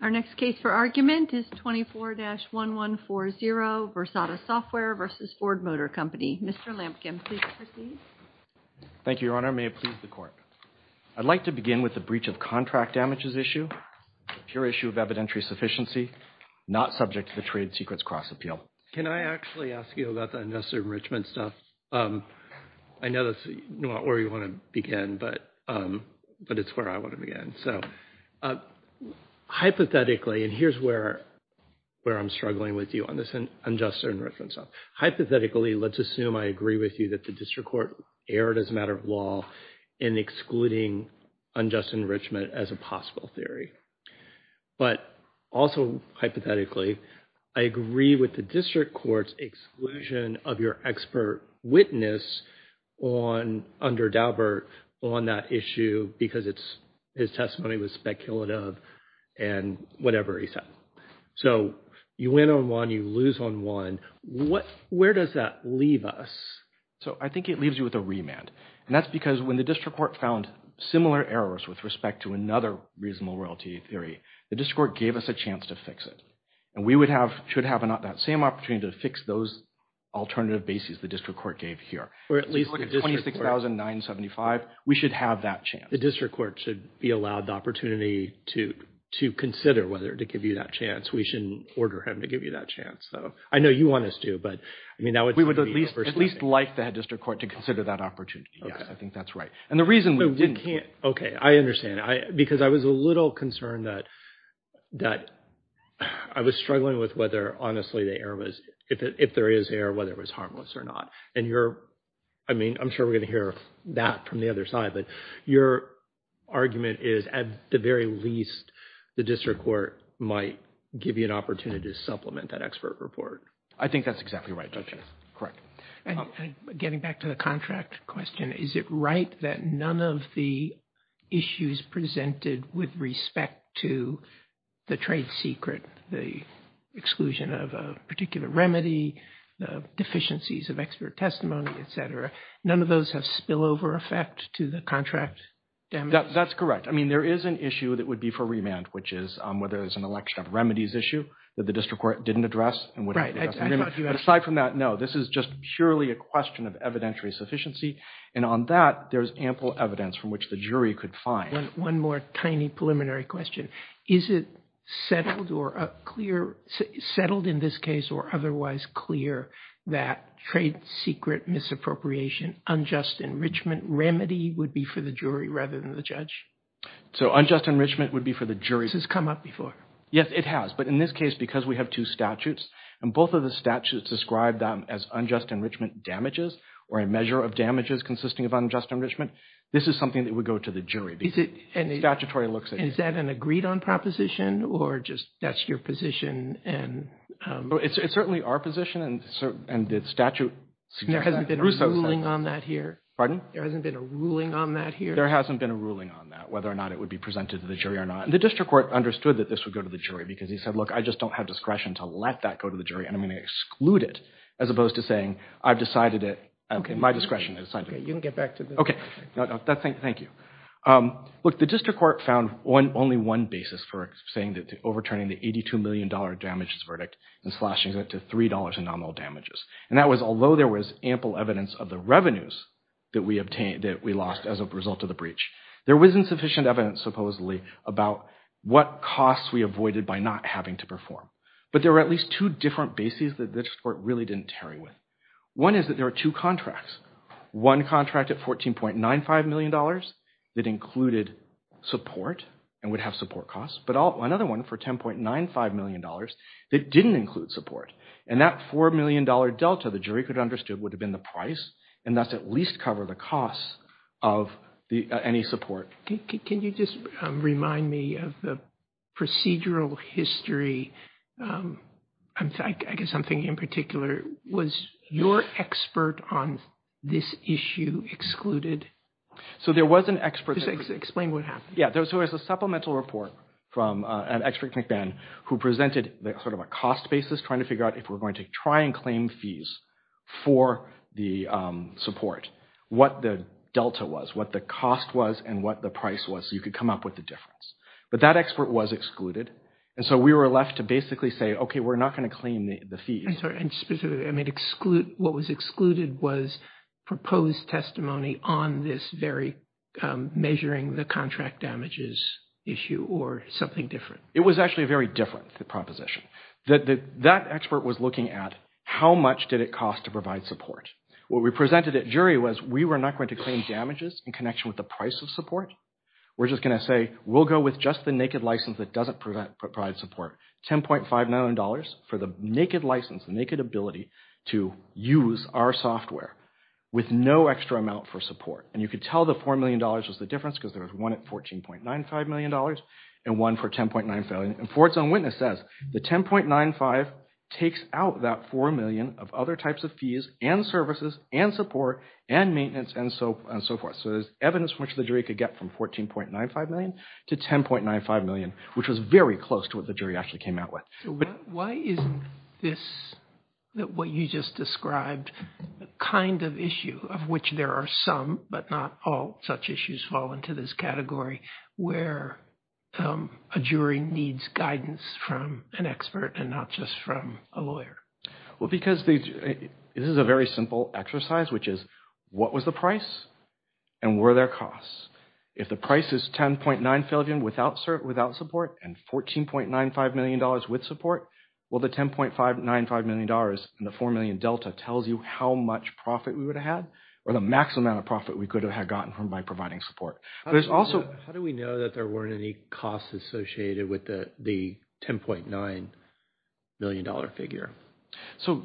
Our next case for argument is 24-1140, Versata Software v. Ford Motor Company. Mr. Lampkin, please proceed. Thank you, Your Honor. May it please the Court. I'd like to begin with the breach of contract damages issue, a pure issue of evidentiary sufficiency, not subject to the Trade Secrets Cross-Appeal. Can I actually ask you about the investor enrichment stuff? I know that's not where you want to begin, but it's where I want to begin. Hypothetically, and here's where I'm struggling with you on this unjust enrichment stuff. Hypothetically, let's assume I agree with you that the District Court erred as a matter of law in excluding unjust enrichment as a possible theory. But also hypothetically, I agree with the District Court's exclusion of your expert witness under Daubert on that issue because his testimony was speculative and whatever he said. So you win on one, you lose on one. Where does that leave us? So I think it leaves you with a remand. And that's because when the District Court found similar errors with respect to another reasonable royalty theory, the District Court gave us a chance to fix it. And we should have that same opportunity to fix those alternative bases the District Court gave here. So if you look at 26,975, we should have that chance. The District Court should be allowed the opportunity to consider whether to give you that chance. We shouldn't order him to give you that chance. So I know you want us to, but I mean, that would be the first thing. We would at least like the District Court to consider that opportunity. Yes, I think that's right. And the reason we didn't... Okay, I understand. Because I was a little concerned that I was struggling with whether honestly the error was, if there is error, whether it was harmless or not. And you're, I mean, I'm sure we're going to hear that from the other side, but your argument is at the very least, the District Court might give you an opportunity to supplement that expert report. I think that's exactly right, Judge. Correct. Getting back to the contract question, is it right that none of the issues presented with respect to the trade secret, the exclusion of a particular remedy, the deficiencies of expert testimony, et cetera, none of those have spillover effect to the contract? That's correct. I mean, there is an issue that would be for remand, which is whether it's an election of remedies issue that the District Court didn't address and wouldn't address in remand. Right, I thought you had... But aside from that, no, this is just purely a question of evidentiary sufficiency. And on that, there's ample evidence from which the jury could find. One more tiny preliminary question. Is it settled or clear, settled in this case or otherwise clear that trade secret misappropriation, unjust enrichment remedy would be for the jury rather than the judge? So unjust enrichment would be for the jury. This has come up before. Yes, it has. But in this case, because we have two statutes, and both of the statutes describe them as unjust enrichment damages or a measure of damages consisting of unjust enrichment, this is something that would go to the jury. And is that an agreed on proposition or just that's your position? And it's certainly our position. And the statute... There hasn't been a ruling on that here? Pardon? There hasn't been a ruling on that here? There hasn't been a ruling on that, whether or not it would be presented to the jury or not. And the District Court understood that this would go to the jury because he said, look, I just don't have discretion to let that go to the jury. And I'm going to exclude it as opposed to saying, I've decided it, my discretion has decided it. OK, you can get back to the... Thank you. Look, the District Court found only one basis for saying that overturning the $82 million damages verdict and slashing it to $3 in nominal damages. And that was although there was ample evidence of the revenues that we obtained, that we lost as a result of the breach, there was insufficient evidence supposedly about what costs we avoided by not having to perform. But there were at least two different bases that the District Court really didn't tarry with. One is that there are two contracts. One contract at $14.95 million that included support and would have support costs, but another one for $10.95 million that didn't include support. And that $4 million delta, the jury could have understood, would have been the price. And that's at least cover the costs of any support. Can you just remind me of the procedural history? I guess something in particular, was your expert on this issue excluded? So there was an expert... Explain what happened. Yeah, there was a supplemental report from an expert at McBain who presented sort of a cost basis, trying to figure out if we're going to try and claim fees for the support, what the delta was, what the cost was, and what the price was, so you could come up with the difference. But that expert was excluded. And so we were left to basically say, okay, we're not going to claim the fees. I'm sorry. And specifically, I mean, what was excluded was proposed testimony on this very measuring the contract damages issue or something different. It was actually a very different proposition. That expert was looking at how much did it provide support. What we presented at jury was we were not going to claim damages in connection with the price of support. We're just going to say, we'll go with just the naked license that doesn't provide support, $10.5 million for the naked license, the naked ability to use our software with no extra amount for support. And you could tell the $4 million was the difference because there was one at $14.95 million and one for 10.9 million. And Ford's own witness says the 10.95 takes out that $4 million of other types of fees and services and support and maintenance and so forth. So there's evidence which the jury could get from $14.95 million to $10.95 million, which was very close to what the jury actually came out with. Why isn't this what you just described the kind of issue of which there are some, but not all issues fall into this category where a jury needs guidance from an expert and not just from a lawyer? Well, because this is a very simple exercise, which is what was the price and were there costs? If the price is 10.95 million without support and $14.95 million with support, well, the $10.95 million and the $4 million delta tells you how much profit we would have had or the maximum amount of profit we could have gotten from providing support. How do we know that there weren't any costs associated with the $10.95 million figure? So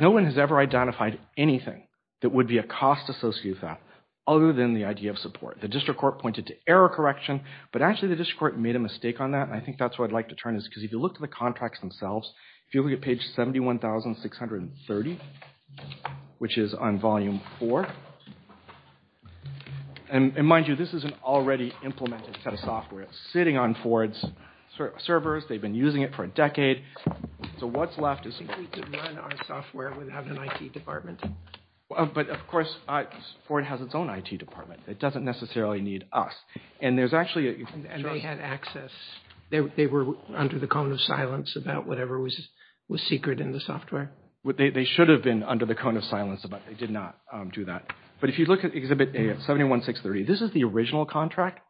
no one has ever identified anything that would be a cost associated with that other than the idea of support. The district court pointed to error correction, but actually the district court made a mistake on that. I think that's what I'd like to turn is because if you look at the contracts themselves, if you look at page 71,630, which is on volume four, and mind you, this is an already implemented set of software. It's sitting on Ford's servers. They've been using it for a decade. So what's left is... I think we could run our software without an IT department. But of course, Ford has its own IT department. It doesn't necessarily need us. And there's actually... And they had access. They were under the cone of silence about whatever was secret in the software. They should have been under the cone of silence, but they did not do that. But if you look at exhibit 71,630, this is the original contract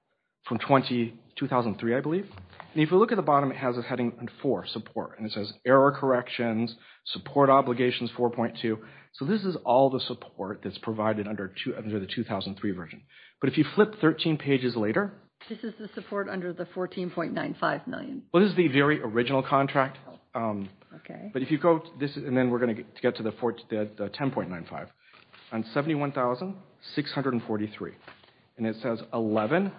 from 2003, I believe. And if you look at the bottom, it has a heading four, support, and it says error corrections, support obligations 4.2. So this is all the support that's provided under the 2003 version. But if you flip 13 pages later... This is the support under the 14.95 million. Well, this is the very original contract. But if you go to this, and then we're going to get to the 10.95, on 71,643, and it says 11,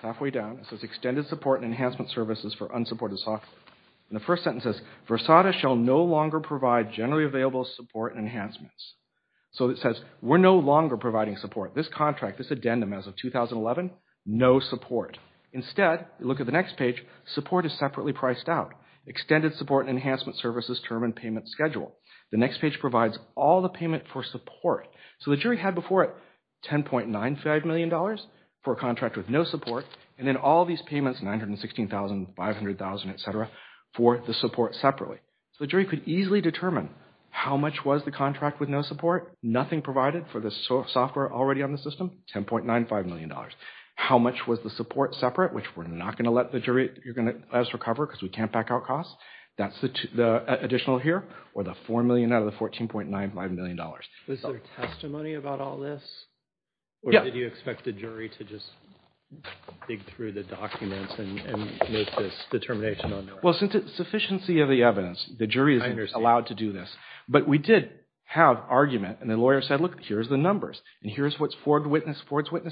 halfway down, it says extended support and enhancement services for unsupported software. And the first sentence says, Versada shall no longer provide generally available support enhancements. So it says, we're no longer providing support. This contract, this addendum as of 2011, no support. Instead, look at the next page, support is separately priced out. Extended support and enhancement services term and payment schedule. The next page provides all the payment for support. So the jury had before it $10.95 million for a contract with no support, and then all these payments, $916,000, $500,000, et cetera, for the support separately. So the jury could easily determine how much was the contract with no support, nothing provided for the software already on the system, $10.95 million. How much was the support separate, which we're not going to let us recover because we can't back out costs. That's the additional here, or the $4 million out of the $14.95 million. Was there testimony about all this? Yeah. Or did you expect the jury to just dig through the documents and make this determination? Well, since it's sufficiency of the evidence, the jury isn't allowed to do this. But we did have argument, and the lawyer said, look, here's the numbers, and here's what Ford's witness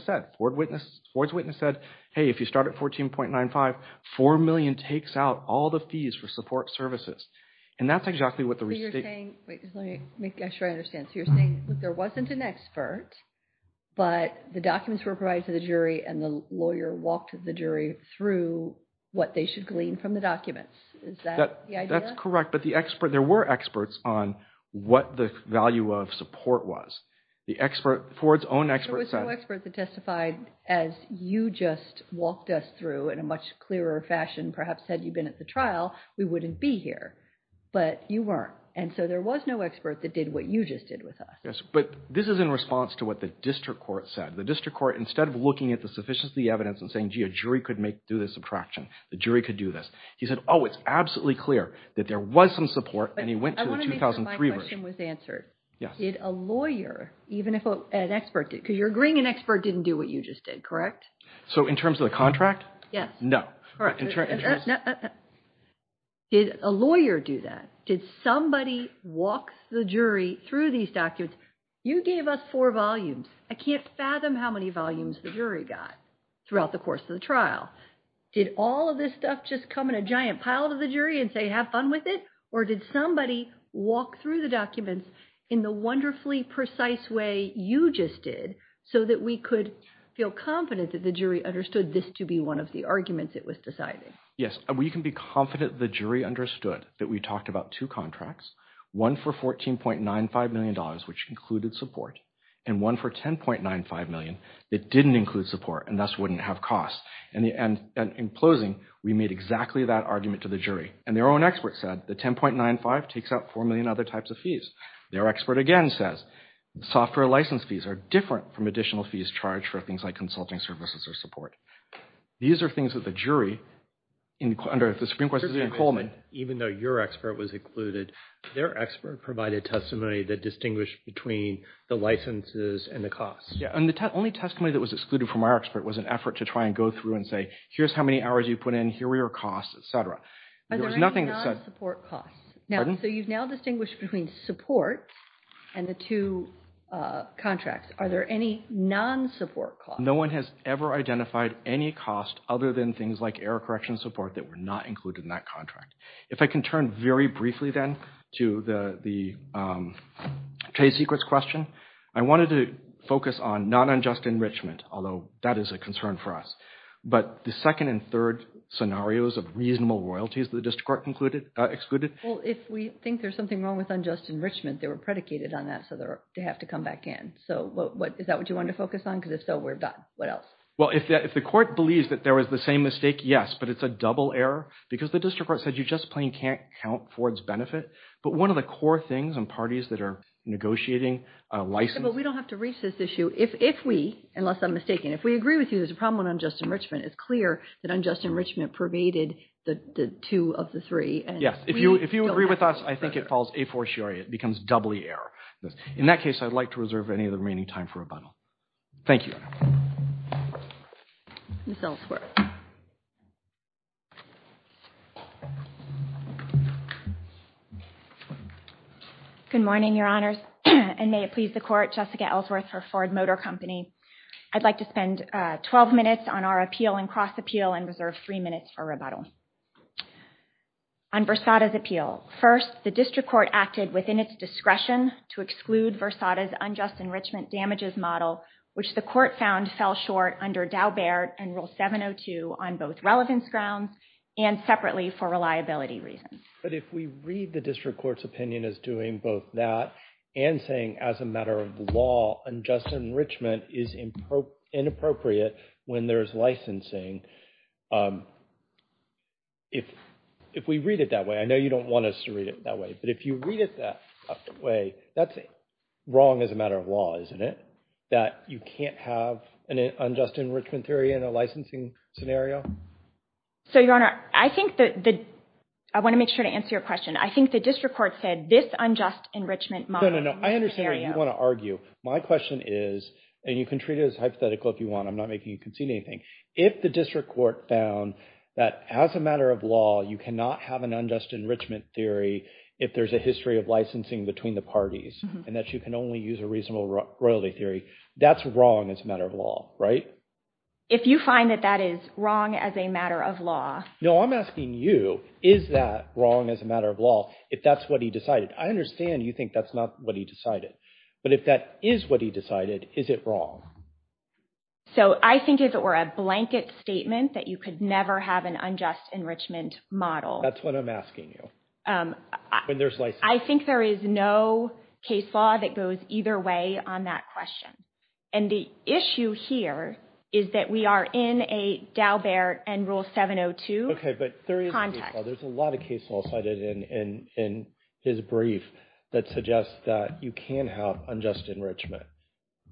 said. Ford's witness said, hey, if you start at $14.95, $4 million takes out all the fees for support services. And that's exactly what the restatement... So you're saying, wait, just let me make sure I understand. So you're saying, look, there wasn't an expert, but the documents were provided to the jury, and the lawyer walked the through what they should glean from the documents. Is that the idea? That's correct. But there were experts on what the value of support was. The expert, Ford's own expert said... There was no expert that testified as you just walked us through in a much clearer fashion, perhaps had you been at the trial, we wouldn't be here. But you weren't. And so there was no expert that did what you just did with us. Yes. But this is in response to what the district court said. The district court, instead of looking at the sufficiency of the evidence and saying, gee, a jury could do this subtraction, the jury could do this. He said, oh, it's absolutely clear that there was some support and he went to the 2003 version. But I want to make sure my question was answered. Did a lawyer, even if an expert did, because you're agreeing an expert didn't do what you just did, correct? So in terms of the contract? Yes. No. Did a lawyer do that? Did somebody walk the jury through these documents? You gave us four volumes. I can't fathom how many volumes the jury got throughout the course of the trial. Did all of this stuff just come in a giant pile to the jury and say, have fun with it? Or did somebody walk through the documents in the wonderfully precise way you just did so that we could feel confident that the jury understood this to be one of the arguments it was deciding? Yes. We can be confident the jury understood that we talked about two contracts, one for $14.95 million, which included support, and one for $10.95 million that didn't include support and thus wouldn't have costs. And in closing, we made exactly that argument to the jury. And their own expert said the $10.95 takes out $4 million in other types of fees. Their expert again says software license fees are different from additional fees charged for things like consulting services or support. These are things that the jury, under the Supreme Court, said Coleman. Even though your expert was included, their expert provided testimony that distinguished between the licenses and the costs. Yeah. And the only testimony that was excluded from our expert was an effort to try and go through and say, here's how many hours you put in. Here were your costs, et cetera. Are there any non-support costs? So you've now distinguished between support and the two contracts. Are there any non-support costs? No one has ever identified any cost other than things like error correction support that were not included in that contract. If I can turn very briefly then to the trade secrets question. I wanted to focus on non-unjust enrichment, although that is a concern for us. But the second and third scenarios of reasonable royalties that the district court excluded. Well, if we think there's something wrong with unjust enrichment, they were predicated on that. So they have to come back in. So is that what you want to focus on? Because if so, we're done. What else? Well, if the court believes that there was the same mistake, yes. But it's a double error. Because the district court said you just plain can't count Ford's benefit. But one of the core things in parties that are negotiating a license. But we don't have to reach this issue if we, unless I'm mistaken, if we agree with you there's a problem with unjust enrichment. It's clear that unjust enrichment pervaded the two of the three. Yes. If you agree with us, I think it falls a fortiori. It becomes doubly error. In that case, I'd like to reserve any of the remaining time for rebuttal. Thank you. Miss Ellsworth. Good morning, your honors. And may it please the court, Jessica Ellsworth for Ford Motor Company. I'd like to spend 12 minutes on our appeal and cross-appeal and reserve three minutes for rebuttal. On Versada's appeal. First, the district court acted within its discretion to exclude Versada's unjust enrichment damages model, which the court found fell short under Daubert and Rule 702 on both relevance grounds and separately for reliability reasons. But if we read the district court's opinion as doing both that and saying as a matter of law unjust enrichment is inappropriate when there is licensing, if we read it that way, I know you don't want us to read it that way, but if you read it that way, that's wrong as a matter of law, isn't it? That you can't have an unjust enrichment theory in a licensing scenario? So, your honor, I want to make sure to answer your question. I think the district court said this unjust enrichment model. No, no, no. I understand what you want to argue. My question is, and you can treat it as hypothetical if you want. I'm not making you concede anything. If the district court found that as a matter of law, you cannot have an unjust enrichment theory if there's a history of licensing between the parties and that you can only use a reasonable royalty theory, that's wrong as a matter of law, right? If you find that that is wrong as a matter of law. No, I'm asking you, is that wrong as a matter of law if that's what he decided? I understand you think that's not what he decided, but if that is what he decided, is it wrong? So, I think if it were a blanket statement that you could never have an unjust enrichment model. That's what I'm asking you. When there's licensing. I think there is no case law that goes either way on that question. And the issue here is that we are in a Dalbert and Rule 702 context. Okay, but there is a case law. There's a lot of case law cited in his brief that suggests that you can have unjust enrichment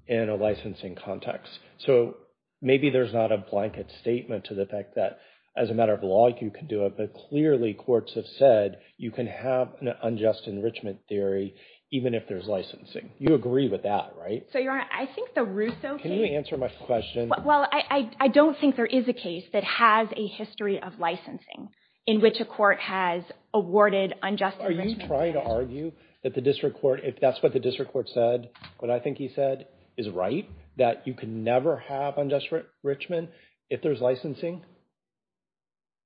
in a licensing context. So, maybe there's not a blanket statement to the fact that as a matter of law, you can do it. But clearly, courts have said you can have an unjust enrichment theory even if there's licensing. You agree with that, right? So, Your Honor, I think the Russo case- Can you answer my question? Well, I don't think there is a case that has a history of licensing in which a court has awarded unjust enrichment. Are you trying to argue that the district court, if that's what the district court said, what I think he said is right? That you can never have unjust enrichment if there's licensing?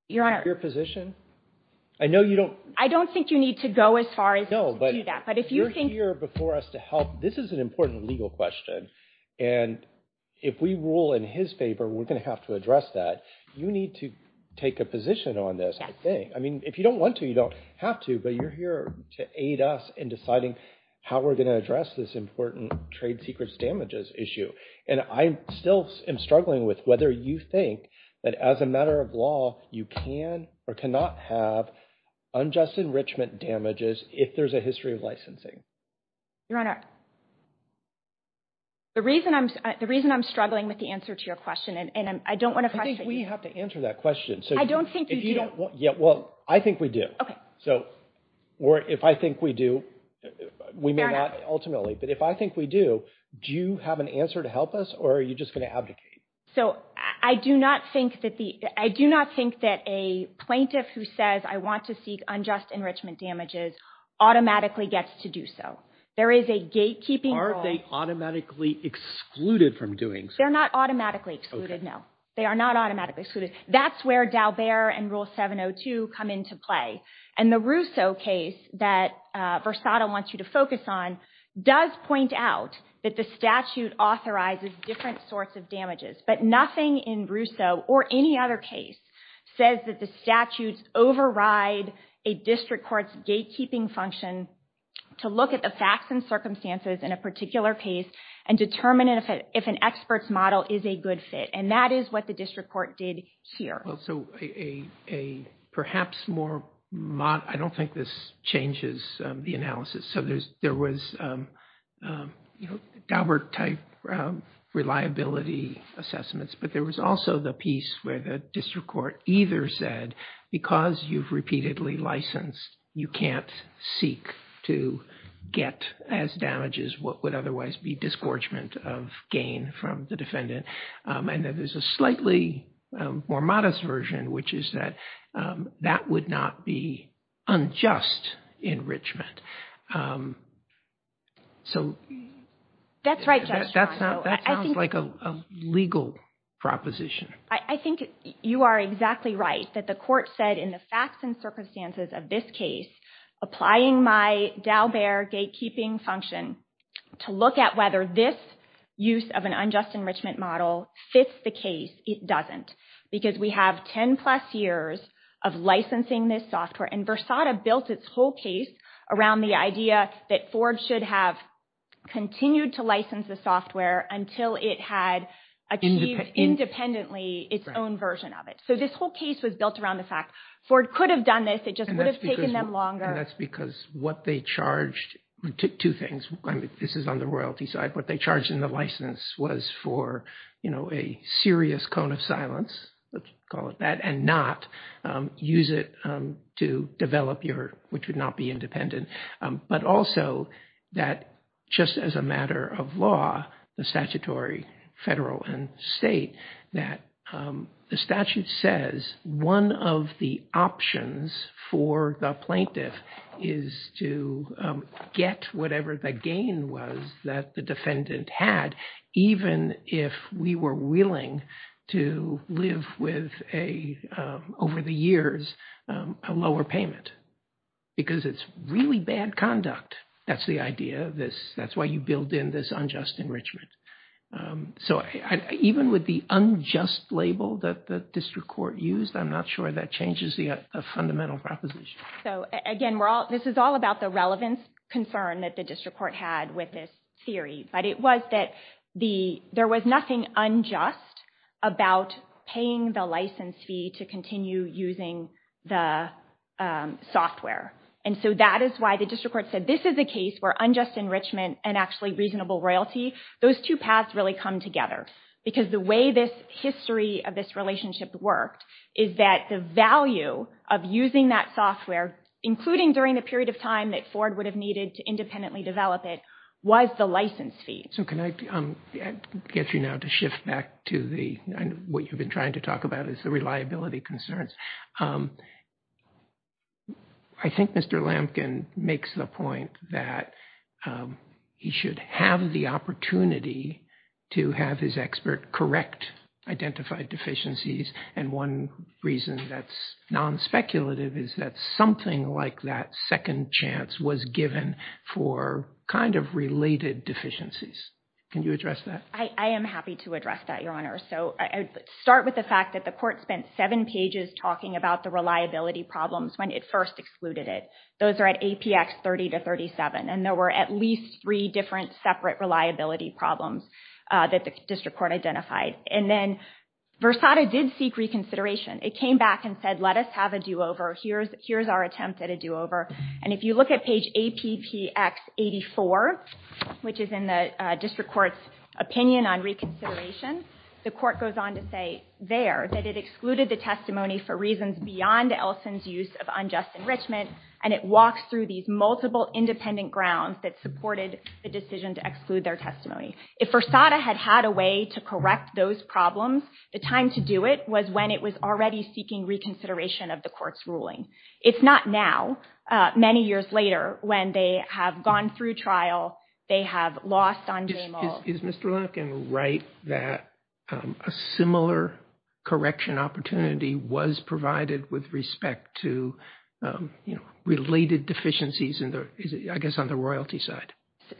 Your Honor- Your position? I know you don't- I don't think you need to go as far as do that. But if you think- You're here before us to help. This is an important legal question. And if we rule in his favor, we're going to have to address that. You need to take a position on this, I think. I mean, if you don't want to, you don't have to. But you're here to aid us in deciding how we're going to address this important trade secrets damages issue. And I still am struggling with whether you think that as a matter of law, you can or cannot have unjust enrichment damages if there's a history of licensing. Your Honor, the reason I'm struggling with the answer to your question, and I don't want to pressure you- I think we have to answer that question. So if you don't- I don't think you do. Yeah, well, I think we do. Okay. So if I think we do, we may not ultimately. But if I think we do, do you have an answer to help us? Or are you just going to abdicate? So I do not think that the- I do not think that a plaintiff who says, I want to seek unjust enrichment damages, automatically gets to do so. There is a gatekeeping- Aren't they automatically excluded from doing so? They're not automatically excluded, no. They are not automatically excluded. That's where Daubert and Rule 702 come into play. And the Russo case that Versado wants you to focus on does point out that the statute authorizes different sorts of damages. But nothing in Russo, or any other case, says that the statutes override a district court's gatekeeping function to look at the facts and circumstances in a particular case and determine if an expert's model is a good fit. And that is what the district court did here. Well, so a perhaps more mod- I don't think this changes the analysis. So there was Daubert-type reliability assessments. But there was also the piece where the district court either said, because you've repeatedly licensed, you can't seek to get as damages what would otherwise be disgorgement of gain from the defendant. And then there's a slightly more modest version, which is that that would not be unjust enrichment. So that sounds like a legal proposition. I think you are exactly right, that the court said in the facts and circumstances of this case, applying my Daubert gatekeeping function to look at whether this use of an unjust enrichment model fits the case, it doesn't. Because we have 10 plus years of licensing this software. And Versada built its whole case around the idea that Ford should have continued to license the software until it had achieved independently its own version of it. So this whole case was built around the fact Ford could have done this, it just would have taken them longer. And that's because what they charged, two things, this is on the royalty side, what they charged in the license was for a serious cone of silence, let's call it that, and not use it to develop your, which would not be independent. But also that just as a matter of law, the statutory federal and state, that the statute says one of the options for the plaintiff is to get whatever the gain was that the defendant had, even if we were willing to live with a, over the years, a lower payment, because it's really bad conduct. That's the idea of this. That's why you build in this unjust enrichment. So even with the unjust label that the district court used, I'm not sure that changes the fundamental proposition. So again, this is all about the relevance concern that the district court had with this theory. But it was that there was nothing unjust about paying the license fee to continue using the software. And so that is why the district court said, this is a case where unjust enrichment and actually reasonable royalty, those two paths really come together. Because the way this history of this relationship worked is that the value of using that software, including during the period of time that Ford would have needed to independently develop it, was the license fee. So can I get you now to shift back to the, what you've been trying to talk about is the reliability concerns. I think Mr. Lampkin makes the point that he should have the opportunity to have his expert correct identified deficiencies. And one reason that's non-speculative is that something like that second chance was given for kind of related deficiencies. Can you address that? I am happy to address that, Your Honor. So I would start with the fact that the court spent seven pages talking about the reliability problems when it first excluded it. Those are at APX 30 to 37. And there were at least three different separate reliability problems that the district court identified. And then Versada did seek reconsideration. It came back and said, let us have a do-over. Here's our attempt at a do-over. And if you look at page APPX 84, which is in the district court's opinion on reconsideration, the court goes on to say there that it excluded the testimony for reasons beyond Ellison's use of unjust enrichment. And it walks through these multiple independent grounds that supported the decision to exclude their testimony. If Versada had had a way to correct those problems, the time to do it was when it was already seeking reconsideration of the court's ruling. It's not now, many years later, when they have gone through trial, they have lost on Jamal. Is Mr. Lenokin right that a similar correction opportunity was provided with respect to related deficiencies I guess on the royalty side?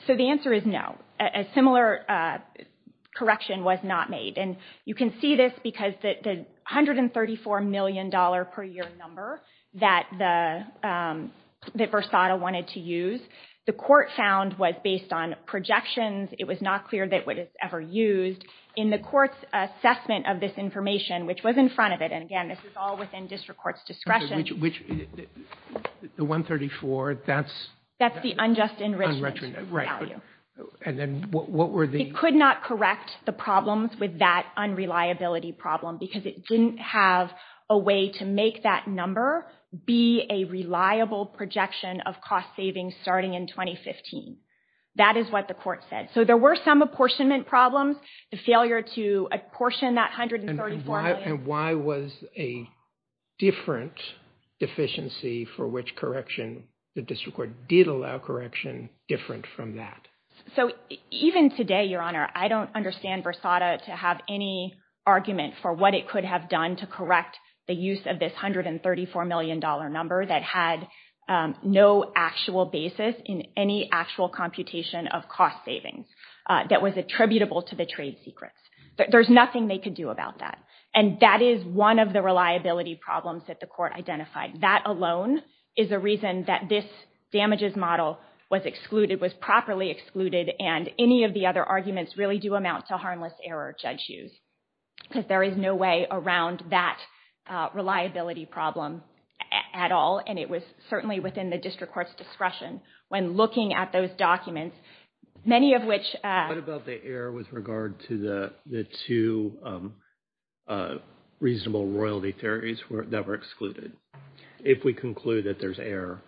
So the answer is no. A similar correction was not made. And you can see this because the $134 million per year number that Versada wanted to use, the court found was based on projections. It was not clear that it was ever used. In the court's assessment of this information, which was in front of it, and again, this is all within district court's discretion. Okay, which, the $134, that's- That's the unjust enrichment value. Right, and then what were the- It could not correct the problems with that unreliability problem because it didn't have a way to make that number be a reliable projection of cost savings starting in 2015. That is what the court said. So there were some apportionment problems, the failure to apportion that $134 million- And why was a different deficiency for which correction, the district court did allow correction, different from that? So even today, Your Honor, I don't understand Versada to have any argument for what it could have done to correct the use of this $134 million number that had no actual basis in any actual computation of cost savings that was attributable to the trade secrets. There's nothing they could do about that. And that is one of the reliability problems that the court identified. That alone is a reason that this damages model was excluded, was properly excluded, and any of the other arguments really do amount to harmless error, Judge Hughes, because there is no way around that reliability problem at all. And it was certainly within the district court's discretion when looking at those documents, many of which- What about the error with regard to the two reasonable royalty theories that were excluded? If we conclude that there's error?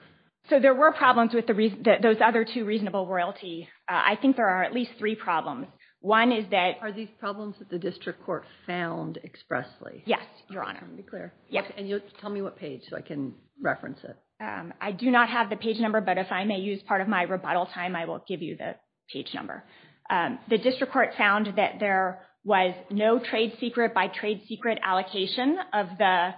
So there were problems with those other two reasonable royalties. I think there are at least three problems. One is that- Are these problems that the district court found expressly? Yes, Your Honor. Let me be clear. Yes. And tell me what page so I can reference it. I do not have the page number, but if I may use part of my rebuttal time, I will give you the page number. The district court found that there was no trade secret by trade secret allocation of the-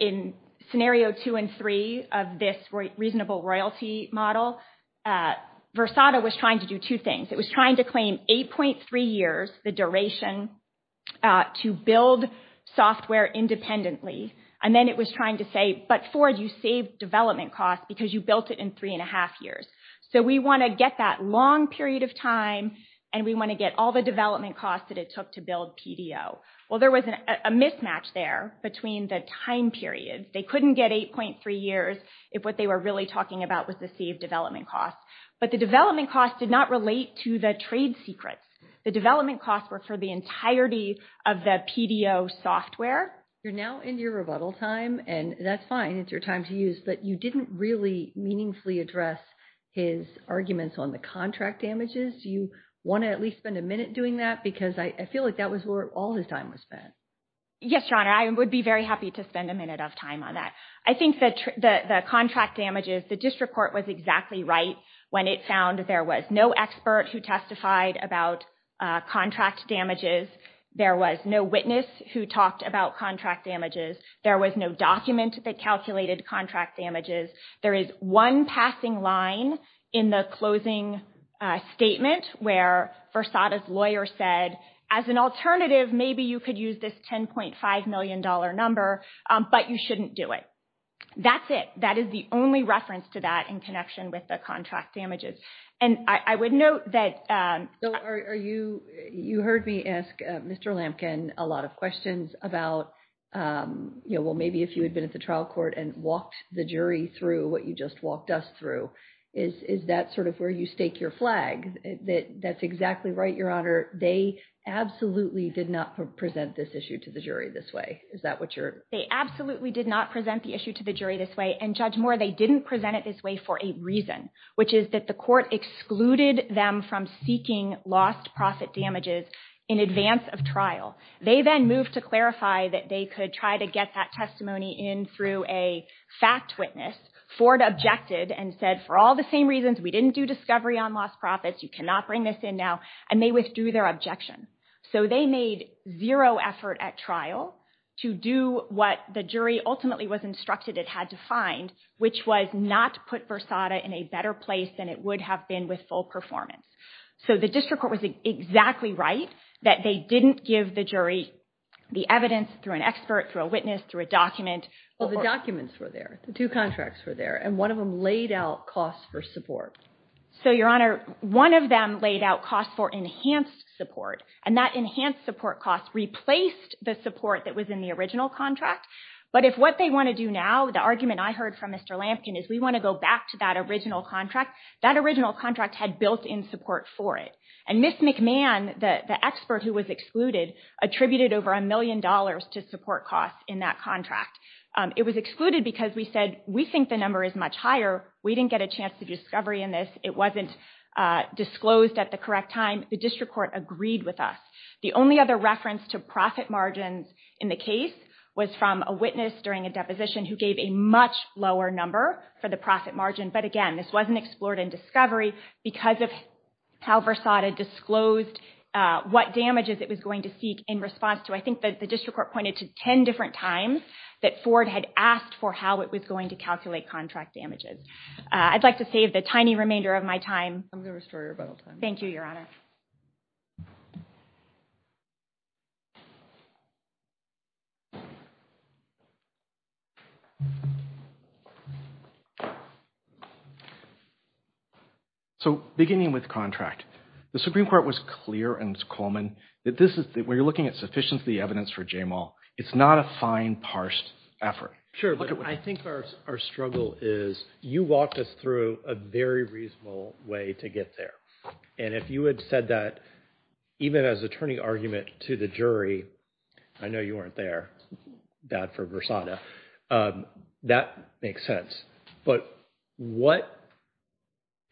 in scenario two and three of this reasonable royalty model. Versada was trying to do two things. It was trying to claim 8.3 years, the duration to build software independently. And then it was trying to say, but Ford, you saved development costs because you built it in three and a half years. So we want to get that long period of time and we want to get all the development costs that it took to build PDO. Well, there was a mismatch there between the time periods. They couldn't get 8.3 years if what they were really talking about was the saved development costs. But the development costs did not relate to the trade secrets. The development costs were for the entirety of the PDO software. You're now in your rebuttal time and that's fine. It's your time to use, but you didn't really meaningfully address his arguments on the contract damages. Do you want to at least spend a minute doing that? Because I feel like that was where all his time was spent. Yes, Your Honor. I would be very happy to spend a minute of time on that. I think that the contract damages, the district court was exactly right when it found that there was no expert who testified about contract damages. There was no witness who talked about contract damages. There was no document that calculated contract damages. There is one passing line in the closing statement where Versada's lawyer said, as an alternative, maybe you could use this $10.5 million number, but you shouldn't do it. That's it. That is the only reference to that in connection with the contract damages. I would note that... You heard me ask Mr. Lampkin a lot of questions about, well, maybe if you had been at the trial court and walked the jury through what you just walked us through, is that sort of where you stake your flag? That's exactly right, Your Honor. They absolutely did not present this issue to the jury this way. Is that what you're... They absolutely did not present the issue to the jury this way, and Judge Moore, they didn't present it this way for a reason, which is that the court excluded them from seeking lost profit damages in advance of trial. They then moved to clarify that they could try to get that testimony in through a fact witness. Ford objected and said, for all the same reasons, we didn't do discovery on lost profits, you cannot bring this in now, and they withdrew their objection. So they made zero effort at trial to do what the jury ultimately was instructed it had to find, which was not to put Versada in a better place than it would have been with full performance. So the district court was exactly right that they didn't give the jury the evidence through an expert, through a witness, through a document. Well, the documents were there, the two contracts were there, and one of them laid out costs for support. So, Your Honor, one of them laid out costs for enhanced support, and that enhanced support cost replaced the support that was in the original contract. But if what they want to do now, the argument I heard from Mr. Lampkin is we want to go back to that original contract. That original contract had built-in support for it. And Ms. McMahon, the expert who was excluded, attributed over a million dollars to support costs in that contract. It was excluded because we said we think the number is much higher, we didn't get a chance to do discovery in this, it wasn't disclosed at the correct time. The district court agreed with us. The only other reference to profit margins in the case was from a witness during a deposition who gave a much lower number for the profit margin. But again, this wasn't explored in discovery because of how Versada disclosed what damages it was going to seek in response to, I think that the district court pointed to 10 different times that Ford had asked for how it was going to calculate contract damages. I'd like to save the tiny remainder of my time. I'm going to restore your rebuttal time. Thank you, Your Honor. So, beginning with contract, the Supreme Court was clear, and it was Coleman, that this is, when you're looking at sufficiency of the evidence for Jamal, it's not a fine, parsed effort. Sure, but I think our struggle is, you walked us through a very reasonable way to get there. And if you had said that, even as attorney argument to the jury, I know you weren't there, bad for Versada, but you walked us through that makes sense. But what,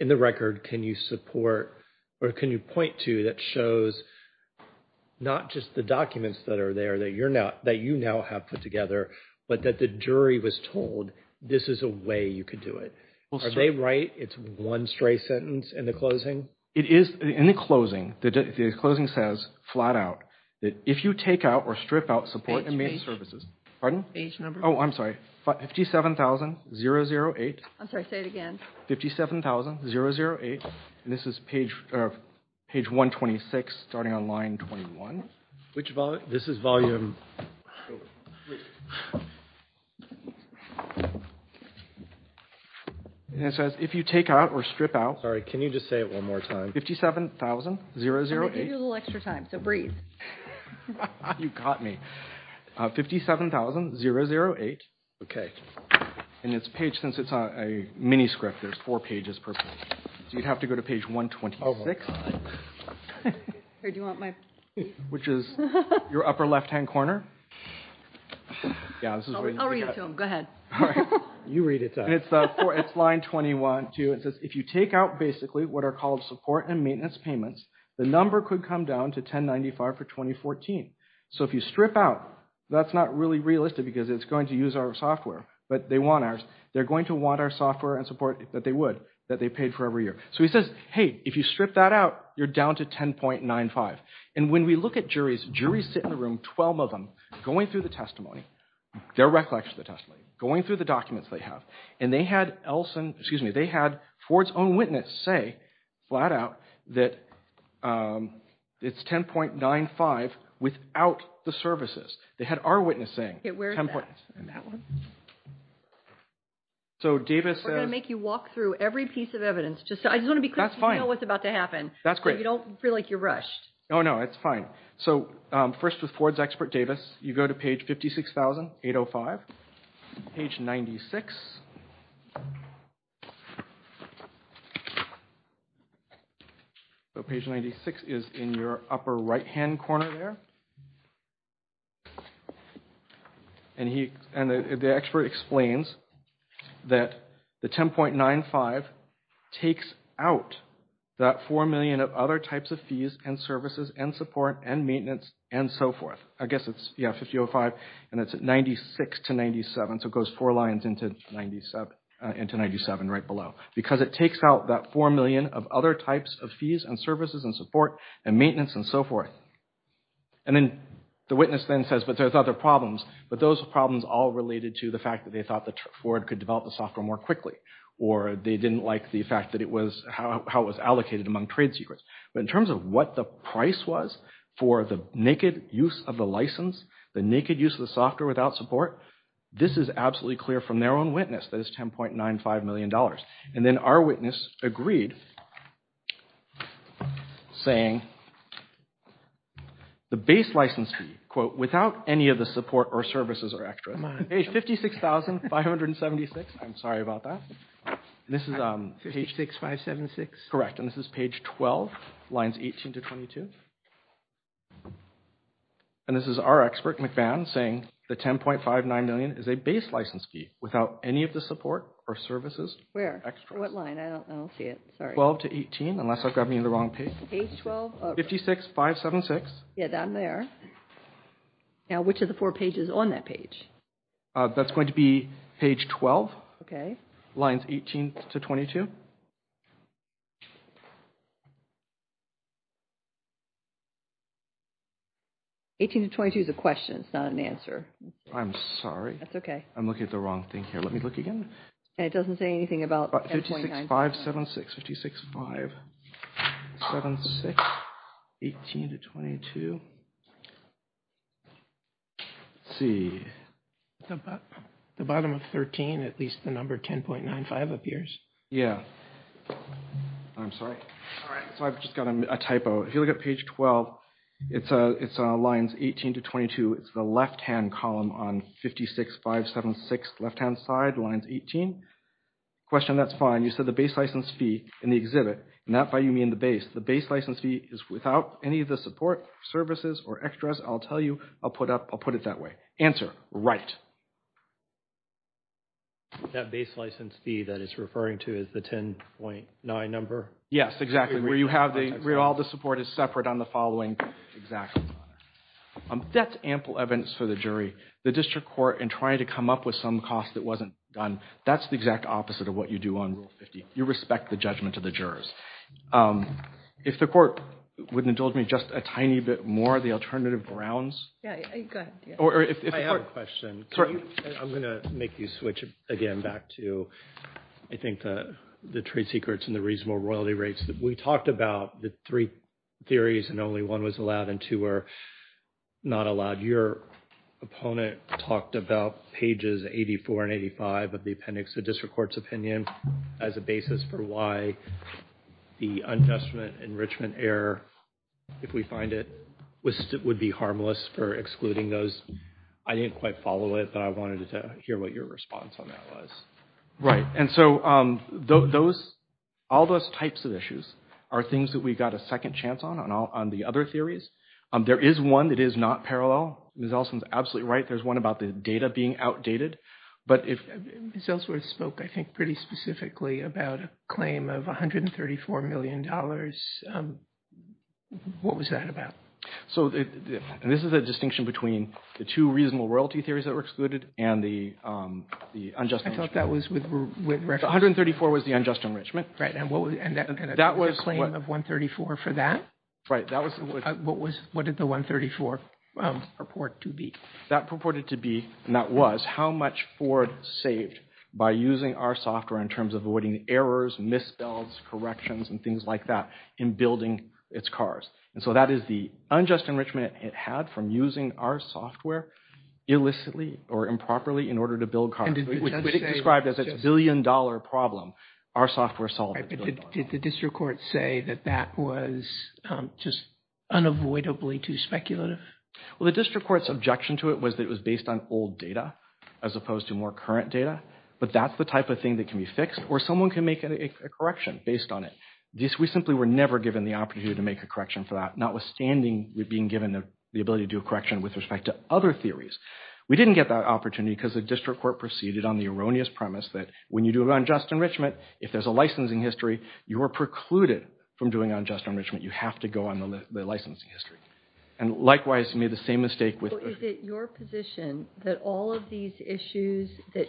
in the record, can you support, or can you point to, that shows not just the documents that are there, that you now have put together, but that the jury was told, this is a way you could do it? Are they right? It's one stray sentence in the closing? It is, in the closing, the closing says, flat out, that if you take out or strip out support and maintenance services, pardon? Page number? Oh, I'm sorry. 57,008. I'm sorry, say it again. 57,008. And this is page 126, starting on line 21. Which volume? This is volume... And it says, if you take out or strip out. Sorry, can you just say it one more time? 57,008. I'm going to give you a little extra time, so breathe. You got me. 57,008. Okay, and it's a page, since it's a mini script, there's four pages per page. So you'd have to go to page 126. Which is your upper left-hand corner. Yeah, this is... I'll read it to him, go ahead. You read it to us. And it's line 21 too, it says, if you take out, basically, what are called support and maintenance payments, the number could come down to 1095 for 2014. So if you strip out, that's not really realistic because it's going to use our software, but they want ours. They're going to want our software and support that they would, that they paid for every year. So he says, hey, if you strip that out, you're down to 10.95. And when we look at juries, juries sit in the room, 12 of them, going through the testimony, their recollection of the testimony, going through the documents they have. And they had Elson, excuse me, they had Ford's own witness say, flat out, that it's 10.95 without the services. They had our witness saying, 10 points. And that one. So Davis says- We're going to make you walk through every piece of evidence. I just want to be quick to know what's about to happen. That's great. So you don't feel like you're rushed. Oh, no, it's fine. So first with Ford's expert, Davis, you go to page 56,805, page 96. So page 96 is in your upper right-hand corner there. And the expert explains that the 10.95 takes out that four million of other types of fees and services and support and maintenance and so forth. I guess it's, yeah, 5,005, and it's 96 to 97. So it goes four lines into 97 right below. Because it takes out that four million of other types of fees and services and support and maintenance and so forth. And then the witness then says, but there's other problems. But those problems all related to the fact that they thought that Ford could develop the software more quickly, or they didn't like the fact that it was how it was allocated among trade secrets. But in terms of what the price was for the naked use of the license, the naked use of the software without support, this is absolutely clear from their own witness that it's 10.95 million dollars. And then our witness agreed saying the base license fee, quote, without any of the support or services or extras. Page 56,576. I'm sorry about that. This is page 6, 5, 7, 6. Correct. And this is page 12, lines 18 to 22. And this is our expert, McBann, saying the 10.59 million is a base license fee without any of the support or services. Where, what line? I don't see it, sorry. 12 to 18, unless I've got me in the wrong page. Page 12, 56, 5, 7, 6. Yeah, down there. Now, which of the four pages on that page? That's going to be page 12. OK. Lines 18 to 22. 18 to 22 is a question, it's not an answer. I'm sorry. That's OK. I'm looking at the wrong thing here. Let me look again. And it doesn't say anything about 10.99. 56, 5, 7, 6. 56, 5, 7, 6. 18 to 22. Let's see. The bottom of 13, at least the number 10.95 appears. Yeah. I'm sorry. All right. So I've just got a typo. If you look at page 12, it's lines 18 to 22. It's the left-hand column on 56, 5, 7, 6. Left-hand side, lines 18. Question, that's fine. You said the base license fee in the exhibit. And that by you mean the base. The base license fee is without any of the support services or services. Or extras. I'll tell you. I'll put it that way. Answer, right. That base license fee that it's referring to is the 10.9 number? Yes, exactly. Where all the support is separate on the following. That's ample evidence for the jury. The district court in trying to come up with some cost that wasn't done, that's the exact opposite of what you do on Rule 50. You respect the judgment to the jurors. If the court wouldn't indulge me just a tiny bit more of the alternative grounds. Yeah, go ahead. Or if the court. I'm going to make you switch again back to, I think, the trade secrets and the reasonable royalty rates. We talked about the three theories and only one was allowed and two were not allowed. Your opponent talked about pages 84 and 85 of the appendix of district court's opinion as a basis for why the adjustment enrichment error, if we find it, would be harmless for excluding those. I didn't quite follow it, but I wanted to hear what your response on that was. Right. And so all those types of issues are things that we got a second chance on on the other theories. There is one that is not parallel. Ms. Elson's absolutely right. There's one about the data being outdated. But if. Ms. Ellsworth spoke, I think, pretty specifically about a claim of $134 million What was that about? So this is a distinction between the two reasonable royalty theories that were excluded and the unjust enrichment. I thought that was with reference. $134 was the unjust enrichment. Right. And what was that? That was. The claim of $134 for that? Right. What did the $134 purport to be? That purported to be, and that was, how much Ford saved by using our software in terms of avoiding errors, misspells, corrections, and things like that in building its cars. And so that is the unjust enrichment it had from using our software illicitly or improperly in order to build cars. Which it described as a billion dollar problem. Our software solved it. Did the district court say that that was just unavoidably too speculative? Well, the district court's objection to it was that it was based on old data as opposed to more current data. But that's the type of thing that can be fixed or someone can make a correction based on it. We simply were never given the opportunity to make a correction for that, notwithstanding being given the ability to do a correction with respect to other theories. We didn't get that opportunity because the district court proceeded on the erroneous premise that when you do an unjust enrichment, if there's a licensing history, you are precluded from doing unjust enrichment. You have to go on the licensing history. And likewise, you made the same mistake with- Is it your position that all of these issues that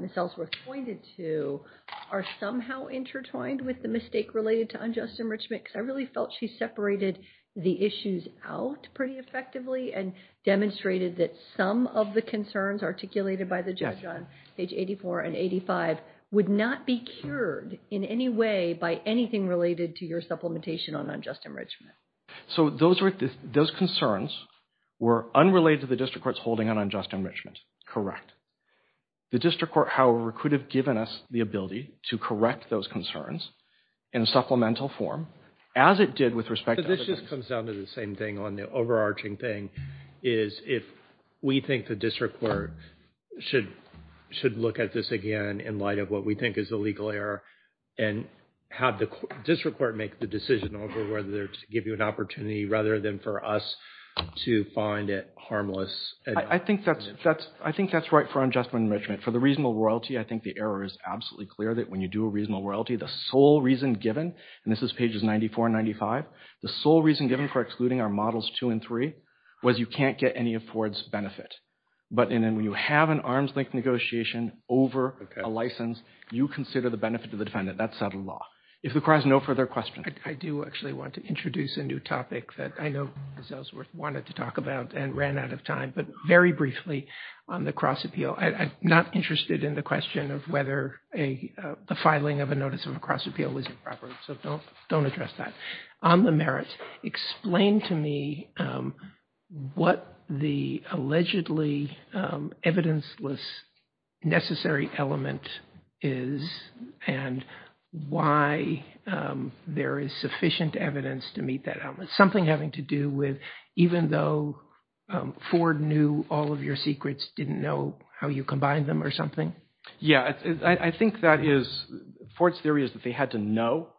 Ms. Ellsworth pointed to are somehow intertwined with the mistake related to unjust enrichment? Because I really felt she separated the issues out pretty effectively and demonstrated that some of the concerns articulated by the judge on page 84 and 85 would not be cured in any way by anything related to your supplementation on unjust enrichment. So those concerns were unrelated to the district court's holding on unjust enrichment. Correct. The district court, however, could have given us the ability to correct those concerns in supplemental form as it did with respect- This just comes down to the same thing on the overarching thing is if we think the district court should look at this again in light of what we think is the legal error and have the district court make the decision over whether to give you an opportunity rather than for us to find it harmless. I think that's right for unjust enrichment. For the reasonable royalty, I think the error is absolutely clear that when you do a reasonable royalty, the sole reason given, and this is pages 94 and 95, the sole reason given for excluding our models two and three was you can't get any of Ford's benefit. But when you have an arms-length negotiation over a license, you consider the benefit to the defendant. That's settled law. If the court has no further questions- I do actually want to introduce a new topic that I know Ms. Ellsworth wanted to talk about and ran out of time, but very briefly on the cross appeal. I'm not interested in the question of whether the filing of a notice of a cross appeal was improper, so don't address that. On the merit, explain to me what the allegedly evidence-less necessary element is and why there is sufficient evidence to meet that element. Something having to do with even though Ford knew all of your secrets, didn't know how you combined them or something? Yeah, I think that is- Ford's theory is that they had to know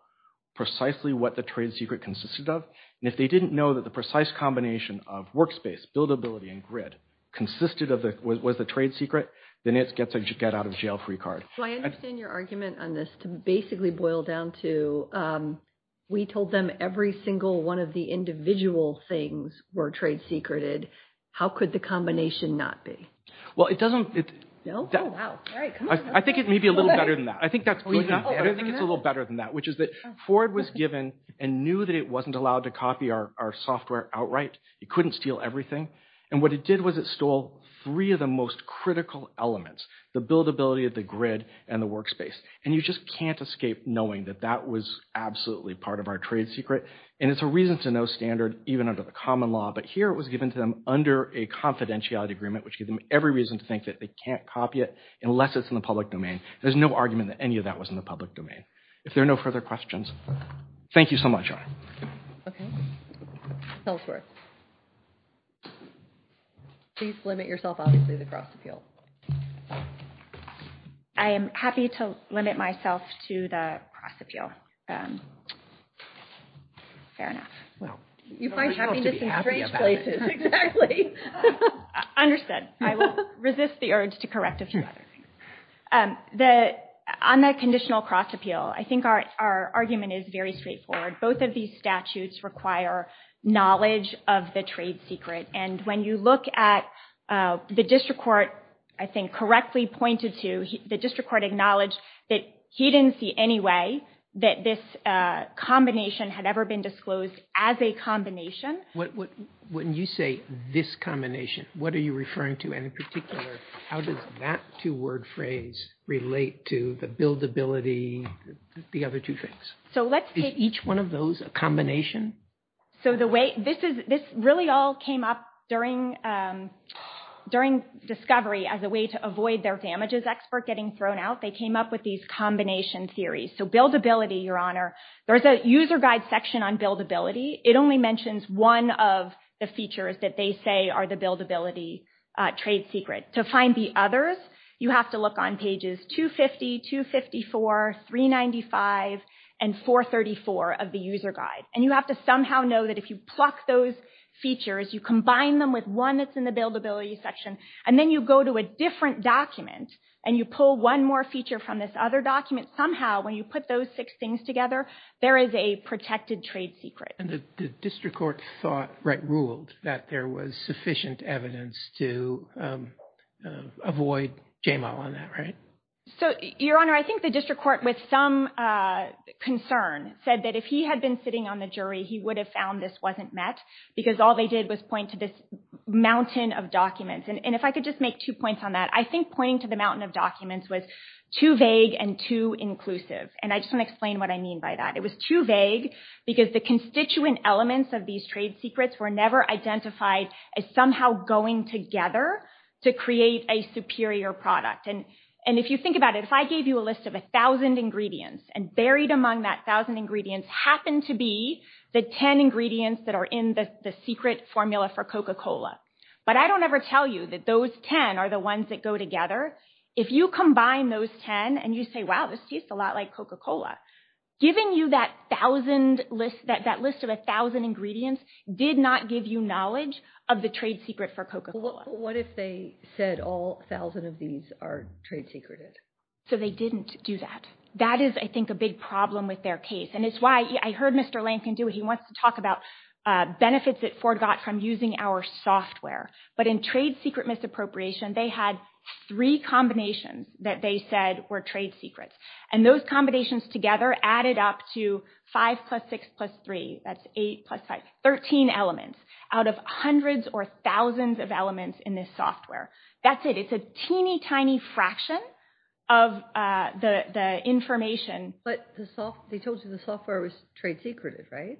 precisely what the trade secret consisted of, and if they didn't know that the precise combination of workspace, buildability, and grid consisted of the- was the trade secret, then it gets a get-out-of-jail-free card. I understand your argument on this to basically boil down to we told them every single one of the individual things were trade secreted. How could the combination not be? Well, it doesn't- No? I think it may be a little better than that. I think it's a little better than that, which is that Ford was given and knew that it wasn't allowed to copy our software outright. It couldn't steal everything, and what it did was it stole three of the most critical elements, the buildability of the grid and the workspace, and you just can't escape knowing that that was absolutely part of our trade secret, and it's a reason to know standard even under the common law, but here it was given to them under a confidentiality agreement which gave them every reason to think that they can't copy it unless it's in the public domain. There's no argument that any of that was in the public domain. If there are no further questions, thank you so much. Okay. Selzwerth. Please limit yourself, obviously, the cross-appeal. I am happy to limit myself to the cross-appeal. Fair enough. Well, you find happiness in strange places. Understood. I will resist the urge to correct a few other things. On the conditional cross-appeal, I think our argument is very straightforward. Both of these statutes require knowledge of the trade secret, and when you look at the district court, I think correctly pointed to, the district court acknowledged that he didn't see any way that this combination had ever been disclosed as a combination. When you say this combination, what are you referring to? And in particular, how does that two-word phrase relate to the buildability, the other two things? So let's take each one of those, a combination. So the way this is, this really all came up during discovery as a way to avoid their damages expert getting thrown out. They came up with these combination theories. So buildability, Your Honor, there's a user guide section on buildability. It only mentions one of the features that they say are the buildability trade secret. To find the others, you have to look on pages 250, 254, 395, and 434 of the user guide. And you have to somehow know that if you pluck those features, you combine them with one that's in the buildability section, and then you go to a different document and you pull one more feature from this other document, somehow when you put those six things together, there is a protected trade secret. And the district court thought, right, ruled that there was sufficient evidence to avoid J-Mal on that, right? So, Your Honor, I think the district court with some concern said that if he had been sitting on the jury, he would have found this wasn't met because all they did was point to this mountain of documents. And if I could just make two points on that, I think pointing to the mountain of documents was too vague and too inclusive. And I just want to explain what I mean by that. It was too vague because the constituent elements of these trade secrets were never identified as somehow going together to create a superior product. And if you think about it, if I gave you a list of 1,000 ingredients and buried among that 1,000 ingredients happened to be the 10 ingredients that are in the secret formula for Coca-Cola, but I don't ever tell you that those 10 are the ones that go together. If you combine those 10 and you say, wow, this tastes a lot like Coca-Cola, giving you that 1,000 list, that list of 1,000 ingredients did not give you knowledge of the trade secret for Coca-Cola. What if they said all 1,000 of these are trade secreted? So they didn't do that. That is, I think, a big problem with their case. And it's why I heard Mr. Lankin do it. He wants to talk about benefits that Ford got from using our software. But in trade secret misappropriation, they had three combinations that they said were trade secrets. And those combinations together added up to 5 plus 6 plus 3. That's 8 plus 5, 13 elements out of hundreds or thousands of elements in this software. That's it. It's a teeny tiny fraction of the information. But they told you the software was trade secretive, right?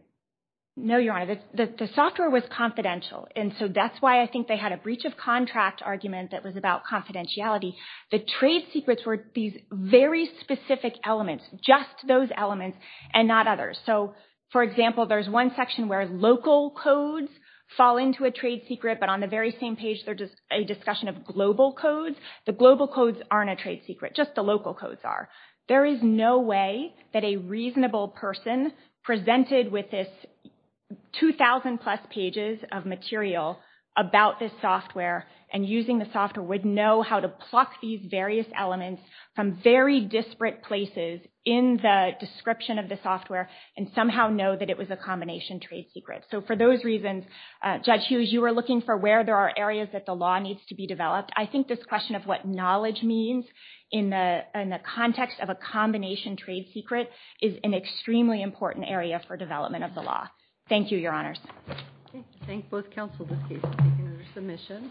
No, Your Honor. The software was confidential. And so that's why I think they had a breach of contract argument that was about confidentiality. The trade secrets were these very specific elements, just those elements and not others. So, for example, there's one section where local codes fall into a trade secret. But on the very same page, there's a discussion of global codes. The global codes aren't a trade secret. Just the local codes are. There is no way that a reasonable person presented with this 2,000 plus pages of material about this software and using the software would know how to pluck these various elements from very disparate places in the description of the software and somehow know that it was a combination trade secret. So, for those reasons, Judge Hughes, you were looking for where there are areas that the law needs to be developed. I think this question of what knowledge means in the context of a combination trade secret is an extremely important area for development of the law. Thank you, Your Honors. I thank both counsels. Thank you for your submission.